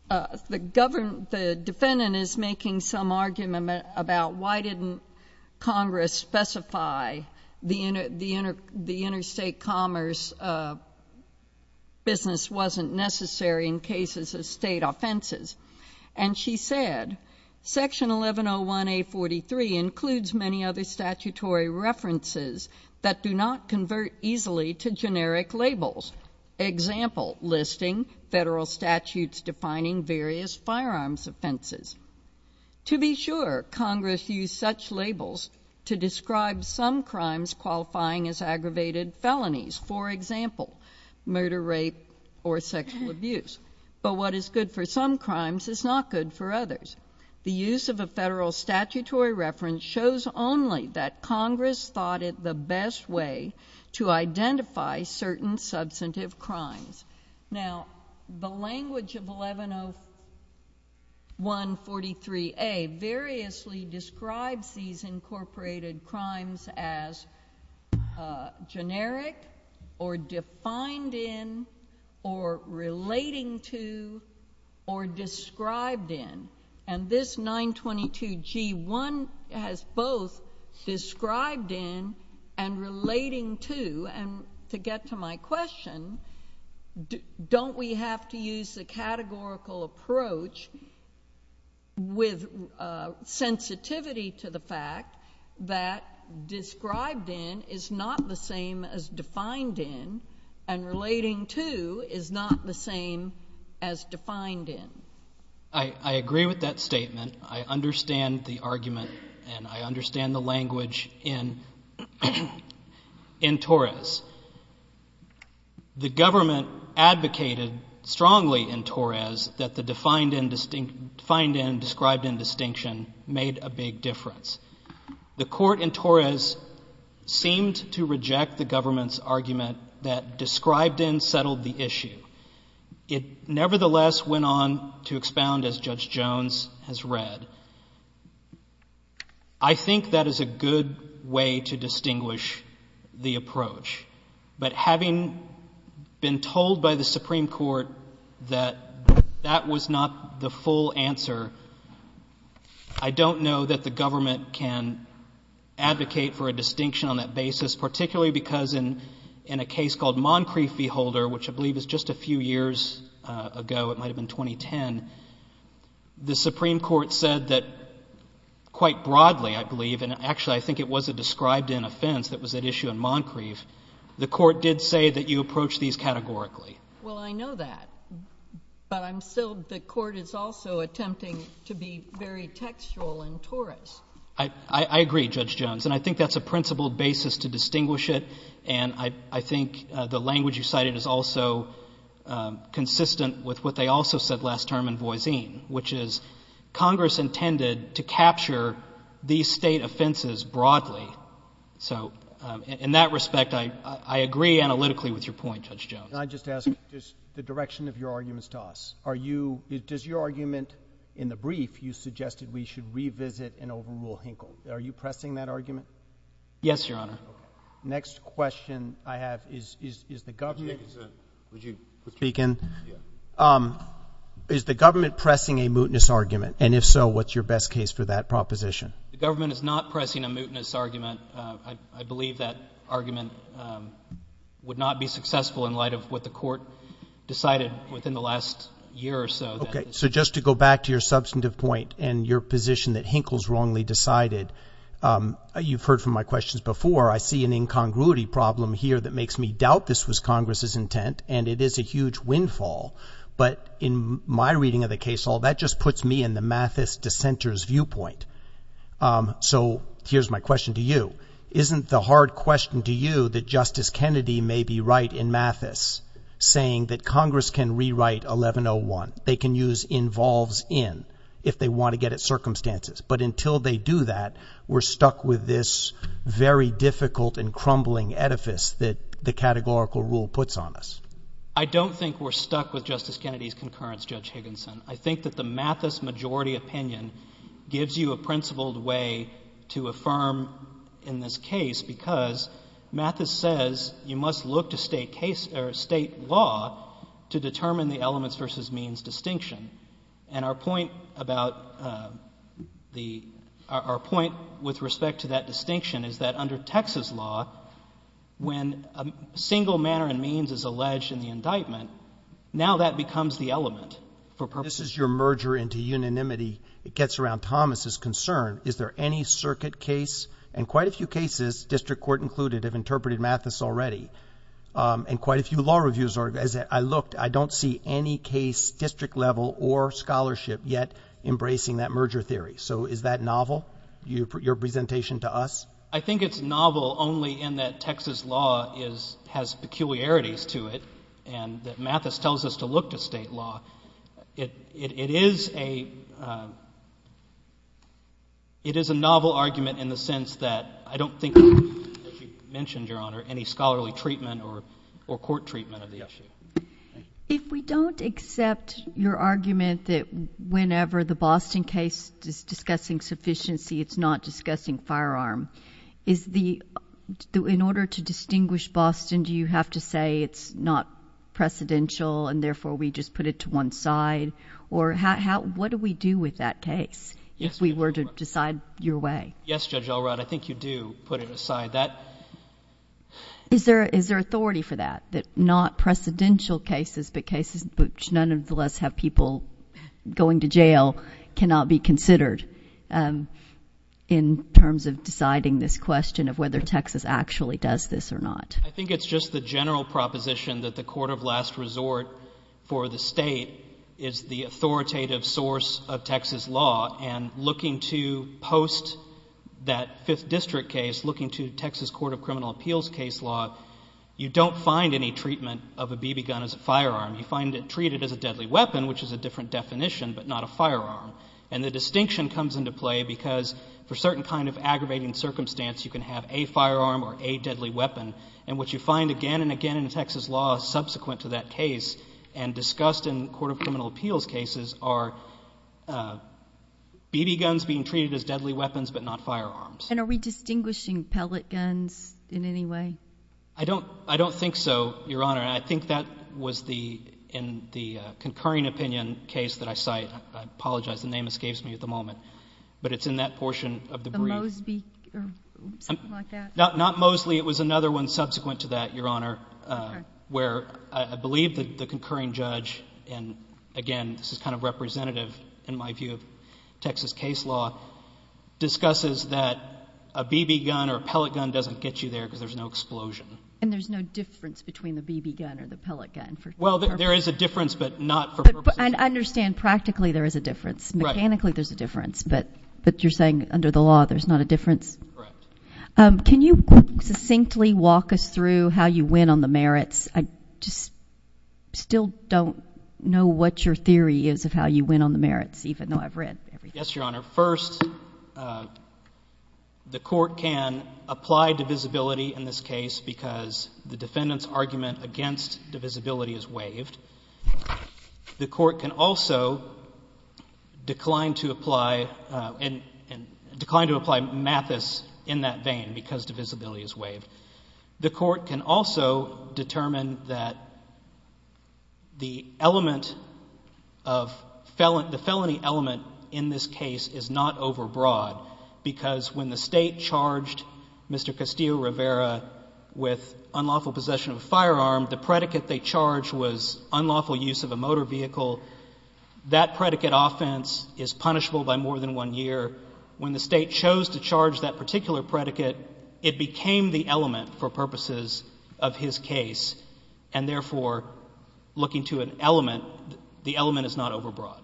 the defendant is making some argument about why didn't Congress specify the interstate commerce business wasn't necessary in cases of state offenses. And she said, Section 1101A43 includes many other statutory references that do not convert easily to generic labels. Example, listing federal statutes defining various firearms offenses. To be sure, Congress used such labels to describe some crimes qualifying as aggravated felonies. For example, murder, rape, or sexual abuse. But what is good for some crimes is not good for others. The use of a federal statutory reference shows only that Congress thought it the best way to identify certain substantive crimes. Now, the language of 110143A variously describes these incorporated crimes as generic, or defined in, or relating to, or described in. And this 922G1 has both described in and relating to. And to get to my question, don't we have to use the categorical approach with sensitivity to the fact that described in is not the same as defined in, and relating to is not the same as defined in? I agree with that statement. I understand the argument, and I understand the language in Torres. The government advocated strongly in Torres that the defined in, described in distinction made a big difference. The court in Torres seemed to reject the government's argument that described in settled the issue. It nevertheless went on to expound, as Judge Jones has read. I think that is a good way to distinguish the approach. But having been told by the Supreme Court that that was not the full answer, I don't know that the government can advocate for a distinction on that basis, particularly because in a case called Moncrief v. Holder, which I believe is just a few years ago, it might have been 2010, the Supreme Court said that quite broadly, I believe, and actually I think it was a described in offense that was at issue in Moncrief, the court did say that you approach these categorically. Well, I know that. But I'm still, the court is also attempting to be very textual in Torres. I agree, Judge Jones, and I think that's a principled basis to distinguish it, and I think the language you cited is also consistent with what they also said last term in Voisin, which is Congress intended to capture these state offenses broadly. So in that respect, I agree analytically with your point, Judge Jones. Can I just ask the direction of your arguments to us? Are you, does your argument in the brief, you suggested we should revisit an overrule Hinkle. Are you pressing that argument? Yes, Your Honor. Next question I have is, is the government. Would you speak in? Yeah. Is the government pressing a mootness argument? And if so, what's your best case for that proposition? The government is not pressing a mootness argument. I believe that argument would not be successful in light of what the court decided within the last year or so. Okay. So just to go back to your substantive point and your position that Hinkle's wrongly decided, you've heard from my questions before. I see an incongruity problem here that makes me doubt this was Congress's intent, and it is a huge windfall. But in my reading of the case, all that just puts me in the Mathis dissenter's viewpoint. So here's my question to you. Isn't the hard question to you that Justice Kennedy may be right in Mathis, saying that Congress can rewrite 1101. They can use involves in if they want to get at circumstances. But until they do that, we're stuck with this very difficult and crumbling edifice that the categorical rule puts on us. I don't think we're stuck with Justice Kennedy's concurrence, Judge Higginson. I think that the Mathis majority opinion gives you a principled way to affirm in this case because Mathis says you must look to state law to determine the elements versus means distinction. And our point with respect to that distinction is that under Texas law, when a single manner and means is alleged in the indictment, now that becomes the element. This is your merger into unanimity. It gets around Thomas's concern. Is there any circuit case? And quite a few cases, district court included, have interpreted Mathis already. And quite a few law reviews. As I looked, I don't see any case district level or scholarship yet embracing that merger theory. So is that novel, your presentation to us? I think it's novel only in that Texas law has peculiarities to it and that Mathis tells us to look to state law. It is a novel argument in the sense that I don't think, as you mentioned, Your Honor, any scholarly treatment or court treatment of the issue. If we don't accept your argument that whenever the Boston case is discussing sufficiency, it's not discussing firearm, in order to distinguish Boston, do you have to say it's not precedential and therefore we just put it to one side? Or what do we do with that case if we were to decide your way? Yes, Judge Elrod. I think you do put it aside. Is there authority for that, that not precedential cases, but cases which nonetheless have people going to jail, cannot be considered in terms of deciding this question of whether Texas actually does this or not? I think it's just the general proposition that the court of last resort for the state is the authoritative source of Texas law and looking to post that fifth district case, looking to Texas court of criminal appeals case law, you don't find any treatment of a BB gun as a firearm. You find it treated as a deadly weapon, which is a different definition, but not a firearm. And the distinction comes into play because for certain kind of aggravating circumstance, you can have a firearm or a deadly weapon. And what you find again and again in Texas law subsequent to that case and discussed in court of criminal appeals cases are BB guns being treated as deadly weapons, but not firearms. And are we distinguishing pellet guns in any way? I don't think so, Your Honor. And I think that was in the concurring opinion case that I cite. I apologize. The name escapes me at the moment. But it's in that portion of the brief. The Mosby or something like that? Not Mosby. Actually, it was another one subsequent to that, Your Honor, where I believe the concurring judge, and again, this is kind of representative in my view of Texas case law, discusses that a BB gun or a pellet gun doesn't get you there because there's no explosion. And there's no difference between the BB gun or the pellet gun? Well, there is a difference, but not for purposes of— But I understand practically there is a difference. Right. Mechanically there's a difference, but you're saying under the law there's not a difference? Correct. Can you succinctly walk us through how you win on the merits? I just still don't know what your theory is of how you win on the merits, even though I've read everything. Yes, Your Honor. First, the court can apply divisibility in this case because the defendant's argument against divisibility is waived. The court can also decline to apply Mathis in that vein because divisibility is waived. The court can also determine that the felony element in this case is not overbroad because when the State charged Mr. Castillo-Rivera with unlawful possession of a firearm, the predicate they charged was unlawful use of a motor vehicle. That predicate offense is punishable by more than one year. When the State chose to charge that particular predicate, it became the element for purposes of his case, and therefore, looking to an element, the element is not overbroad.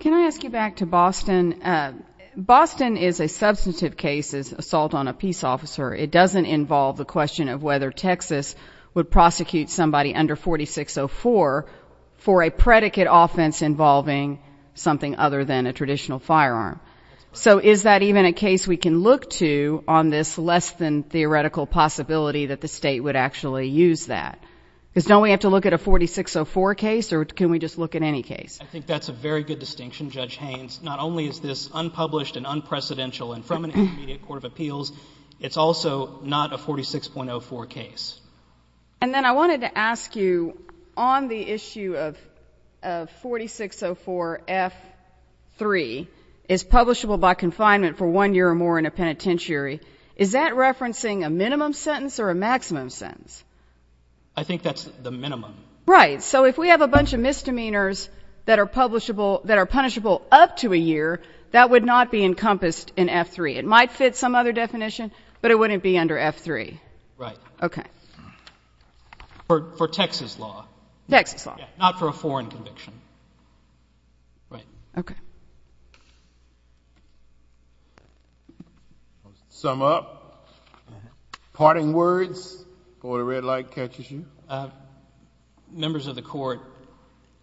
Can I ask you back to Boston? Boston is a substantive case as assault on a peace officer. It doesn't involve the question of whether Texas would prosecute somebody under 4604 for a predicate offense involving something other than a traditional firearm. So is that even a case we can look to on this less-than-theoretical possibility that the State would actually use that? Because don't we have to look at a 4604 case, or can we just look at any case? I think that's a very good distinction, Judge Haynes. Not only is this unpublished and unprecedented, and from an intermediate court of appeals, it's also not a 4604 case. And then I wanted to ask you, on the issue of 4604F3 is publishable by confinement for one year or more in a penitentiary, is that referencing a minimum sentence or a maximum sentence? I think that's the minimum. Right. So if we have a bunch of misdemeanors that are punishable up to a year, that would not be encompassed in F3. It might fit some other definition, but it wouldn't be under F3. Right. Okay. For Texas law. Texas law. Not for a foreign conviction. Right. Okay. Sum up. Parting words. Before the red light catches you. Members of the Court,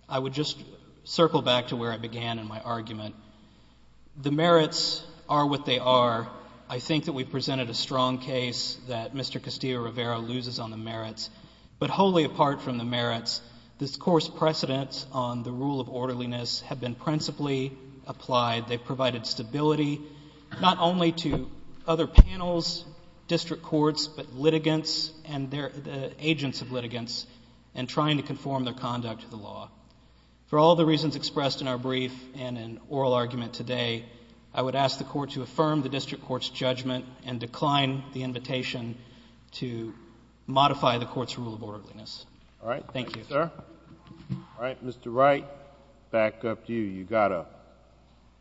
I would just circle back to where I began in my argument. The merits are what they are. I think that we presented a strong case that Mr. Castillo-Rivera loses on the merits. But wholly apart from the merits, this Court's precedents on the rule of orderliness have been principally applied. They've provided stability not only to other panels, district courts, but litigants and agents of litigants in trying to conform their conduct to the law. For all the reasons expressed in our brief and in oral argument today, I would ask the Court to affirm the district court's judgment and decline the invitation to modify the Court's rule of orderliness. All right. Thank you. Thank you, sir. All right. Mr. Wright, back up to you. You've got a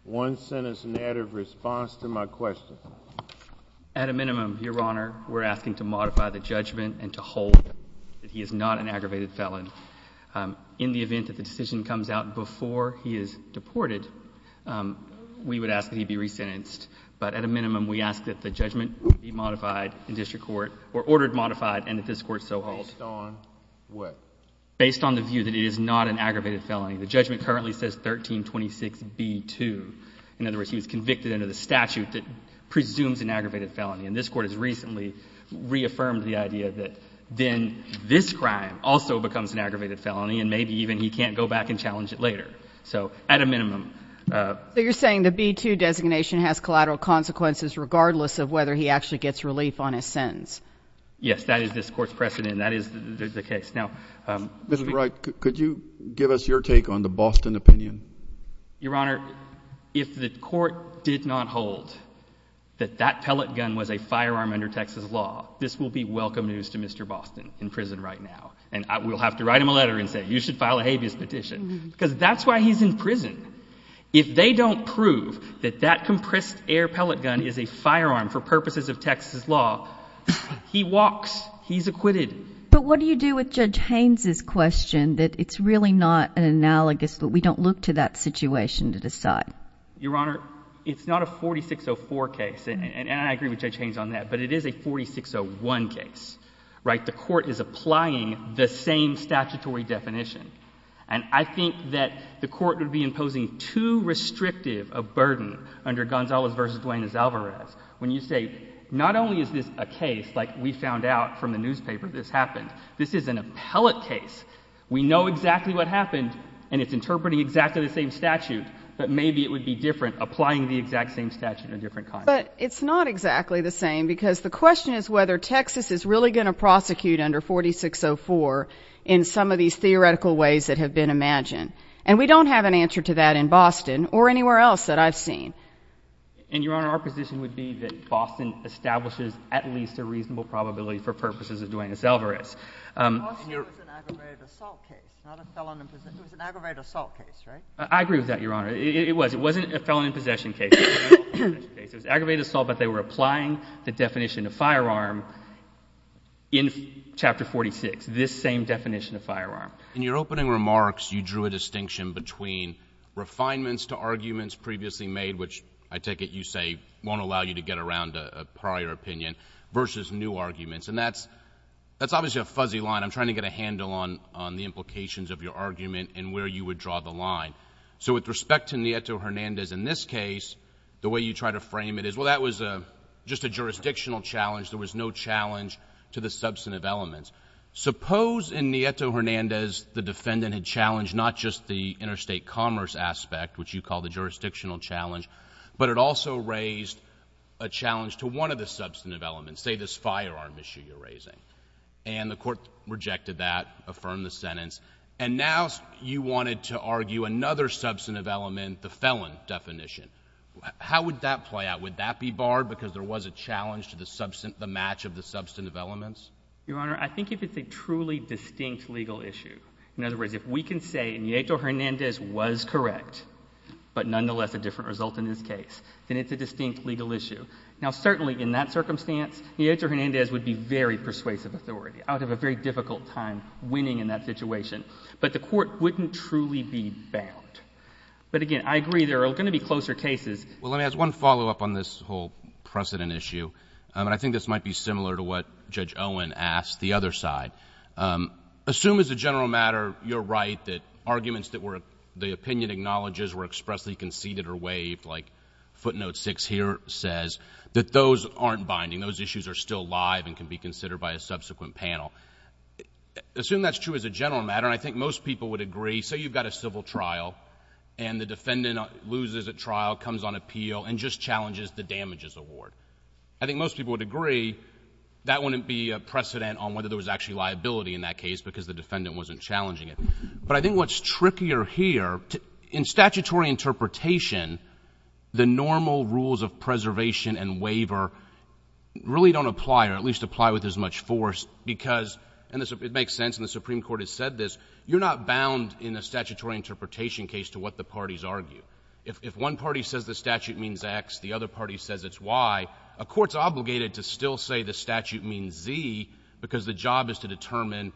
one-sentence narrative response to my question. At a minimum, Your Honor, we're asking to modify the judgment and to hold that he is not an aggravated felon. In the event that the decision comes out before he is deported, we would ask that he be resentenced. But at a minimum, we ask that the judgment be modified in district court or ordered modified and that this Court so hold. Based on what? Based on the view that it is not an aggravated felony. The judgment currently says 1326B2. In other words, he was convicted under the statute that presumes an aggravated felony. And this Court has recently reaffirmed the idea that then this crime also becomes an aggravated felony and maybe even he can't go back and challenge it later. So at a minimum. So you're saying the B2 designation has collateral consequences regardless of whether he actually gets relief on his sentence? Yes, that is this Court's precedent and that is the case. Mr. Wright, could you give us your take on the Boston opinion? Your Honor, if the Court did not hold that that pellet gun was a firearm under Texas law, this will be welcome news to Mr. Boston in prison right now. And we'll have to write him a letter and say you should file a habeas petition because that's why he's in prison. If they don't prove that that compressed air pellet gun is a firearm for purposes of Texas law, he walks. He's acquitted. But what do you do with Judge Haynes' question that it's really not an analogous, that we don't look to that situation to decide? Your Honor, it's not a 4604 case, and I agree with Judge Haynes on that, but it is a 4601 case. The Court is applying the same statutory definition. And I think that the Court would be imposing too restrictive a burden under Gonzales v. Duane Azalvarez when you say not only is this a case like we found out from the newspaper this happened, this is an appellate case. We know exactly what happened, and it's interpreting exactly the same statute, but maybe it would be different applying the exact same statute in a different context. But it's not exactly the same because the question is whether Texas is really going to prosecute under 4604 in some of these theoretical ways that have been imagined. And we don't have an answer to that in Boston or anywhere else that I've seen. And, Your Honor, our position would be that Boston establishes at least a reasonable probability for purposes of Duane Azalvarez. Boston was an aggravated assault case, not a felon in possession. It was an aggravated assault case, right? I agree with that, Your Honor. It was. It wasn't a felon in possession case. It was an aggravated assault, but they were applying the definition of firearm in Chapter 46, this same definition of firearm. In your opening remarks, you drew a distinction between refinements to arguments previously made, which I take it you say won't allow you to get around a prior opinion, versus new arguments. And that's obviously a fuzzy line. I'm trying to get a handle on the implications of your argument and where you would draw the line. So with respect to Nieto-Hernandez in this case, the way you try to frame it is, well, that was just a jurisdictional challenge. There was no challenge to the substantive elements. Suppose in Nieto-Hernandez the defendant had challenged not just the interstate commerce aspect, which you call the jurisdictional challenge, but it also raised a challenge to one of the substantive elements, say this firearm issue you're raising. And the court rejected that, affirmed the sentence, and now you wanted to argue another substantive element, the felon definition. How would that play out? Would that be barred because there was a challenge to the match of the substantive elements? Your Honor, I think if it's a truly distinct legal issue. In other words, if we can say Nieto-Hernandez was correct, but nonetheless a different result in this case, then it's a distinct legal issue. Now, certainly in that circumstance, Nieto-Hernandez would be very persuasive authority. I would have a very difficult time winning in that situation. But the court wouldn't truly be bound. But again, I agree there are going to be closer cases. Well, let me ask one follow-up on this whole precedent issue. And I think this might be similar to what Judge Owen asked, the other side. Assume as a general matter you're right that arguments that the opinion acknowledges were expressly conceded or waived like footnote six here says, that those aren't binding. Those issues are still live and can be considered by a subsequent panel. Assume that's true as a general matter, and I think most people would agree. Say you've got a civil trial, and the defendant loses at trial, comes on appeal, and just challenges the damages award. I think most people would agree that wouldn't be a precedent on whether there was actually liability in that case because the defendant wasn't challenging it. But I think what's trickier here, in statutory interpretation, the normal rules of preservation and waiver really don't apply or at least apply with as much force because, and it makes sense and the Supreme Court has said this, you're not bound in a statutory interpretation case to what the parties argue. If one party says the statute means X, the other party says it's Y, a court's obligated to still say the statute means Z because the job is to determine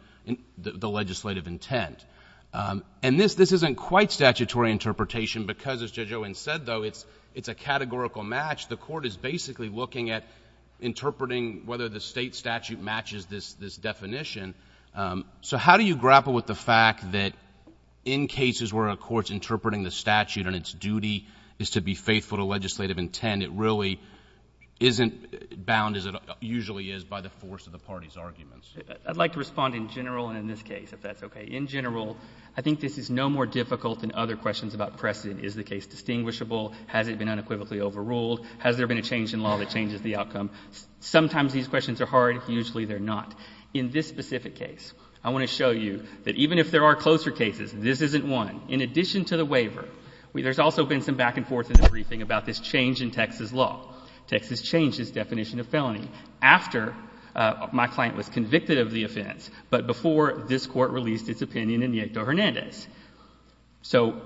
the legislative intent. And this isn't quite statutory interpretation because, as Judge Owen said though, it's a categorical match. The court is basically looking at interpreting whether the state statute matches this definition. So how do you grapple with the fact that in cases where a court's interpreting the statute and its duty is to be faithful to legislative intent, it really isn't bound as it usually is by the force of the party's arguments? I'd like to respond in general and in this case, if that's okay. In general, I think this is no more difficult than other questions about precedent. Is the case distinguishable? Has it been unequivocally overruled? Has there been a change in law that changes the outcome? Sometimes these questions are hard. Usually they're not. In this specific case, I want to show you that even if there are closer cases, this isn't one. In addition to the waiver, there's also been some back and forth in the briefing about this change in Texas law. Texas changed its definition of felony after my client was convicted of the offense, but before this Court released its opinion in Nieto-Hernandez. So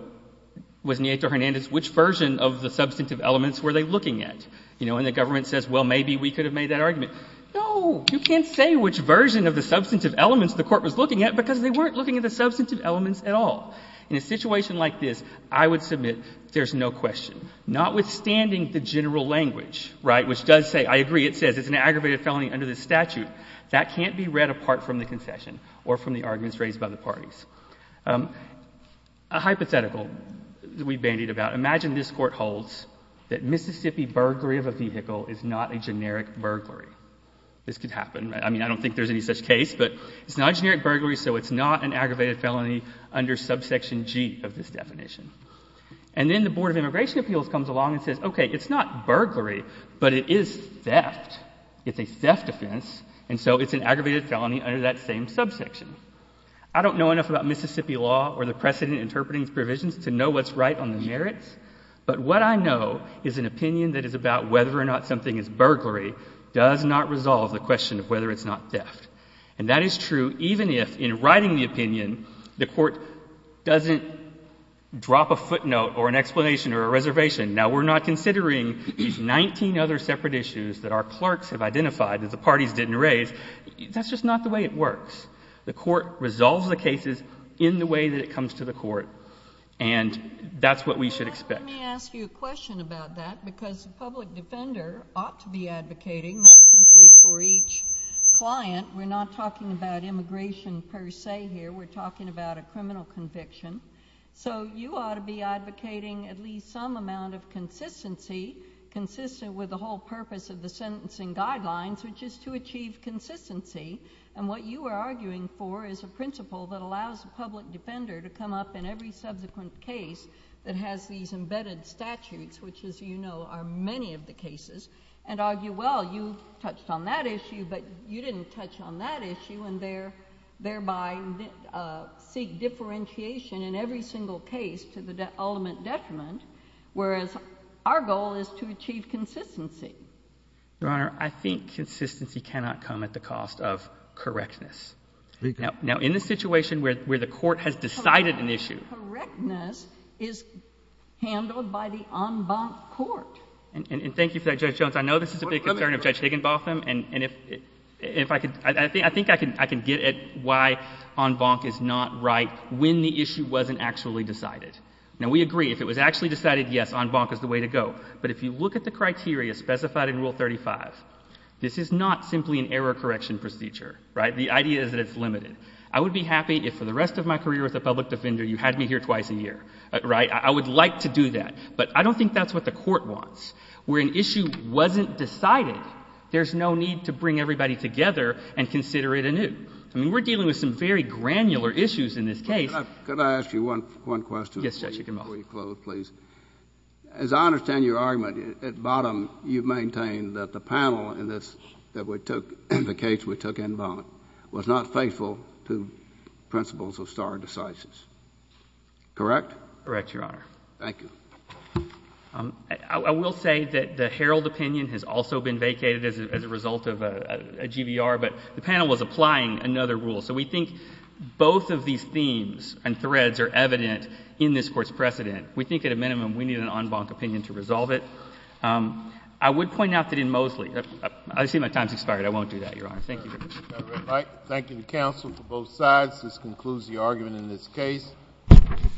was Nieto-Hernandez, which version of the substantive elements were they looking at? You know, and the government says, well, maybe we could have made that argument. No, you can't say which version of the substantive elements the Court was looking at because they weren't looking at the substantive elements at all. In a situation like this, I would submit there's no question, notwithstanding the general language, right, which does say, I agree, it says it's an aggravated felony under this statute. That can't be read apart from the concession or from the arguments raised by the parties. A hypothetical we bandied about. Imagine this Court holds that Mississippi burglary of a vehicle is not a generic burglary. This could happen. I mean, I don't think there's any such case, but it's not a generic burglary, so it's not an aggravated felony under subsection G of this definition. And then the Board of Immigration Appeals comes along and says, okay, it's not burglary, but it is theft. It's a theft offense, and so it's an aggravated felony under that same subsection. I don't know enough about Mississippi law or the precedent interpreting provisions to know what's right on the merits, but what I know is an opinion that is about whether or not something is burglary does not resolve the question of whether it's not theft. And that is true even if, in writing the opinion, the Court doesn't drop a footnote or an explanation or a reservation. Now, we're not considering these 19 other separate issues that our clerks have identified that the parties didn't raise. That's just not the way it works. The Court resolves the cases in the way that it comes to the Court, and that's what we should expect. Let me ask you a question about that because the public defender ought to be advocating not simply for each client. We're not talking about immigration per se here. We're talking about a criminal conviction. So you ought to be advocating at least some amount of consistency, consistent with the whole purpose of the sentencing guidelines, which is to achieve consistency. And what you are arguing for is a principle that allows the public defender to come up in every subsequent case that has these embedded statutes, which, as you know, are many of the cases, and argue, well, you touched on that issue, but you didn't touch on that issue, and thereby seek differentiation in every single case to the ultimate detriment, whereas our goal is to achieve consistency. Your Honor, I think consistency cannot come at the cost of correctness. Now, in the situation where the Court has decided an issue— Correctness is handled by the en banc court. And thank you for that, Judge Jones. I know this is a big concern of Judge Higginbotham, and I think I can get at why en banc is not right when the issue wasn't actually decided. Now, we agree. If it was actually decided, yes, en banc is the way to go. But if you look at the criteria specified in Rule 35, this is not simply an error correction procedure. Right? The idea is that it's limited. I would be happy if for the rest of my career as a public defender you had me here twice a year. Right? I would like to do that. But I don't think that's what the Court wants. Where an issue wasn't decided, there's no need to bring everybody together and consider it anew. I mean, we're dealing with some very granular issues in this case. Could I ask you one question? Yes, Judge Higginbotham. Before you close, please. As I understand your argument, at bottom you maintain that the panel in the case we took en banc was not faithful to principles of stare decisis. Correct? Correct, Your Honor. Thank you. I will say that the Herald opinion has also been vacated as a result of a GVR, but the panel was applying another rule. So we think both of these themes and threads are evident in this Court's precedent. We think at a minimum we need an en banc opinion to resolve it. I would point out that in Mosley, I see my time has expired. I won't do that, Your Honor. Thank you. All right. Thank you to counsel for both sides. This concludes the argument in this case. Thank you. Thank you. Thank you. Thank you.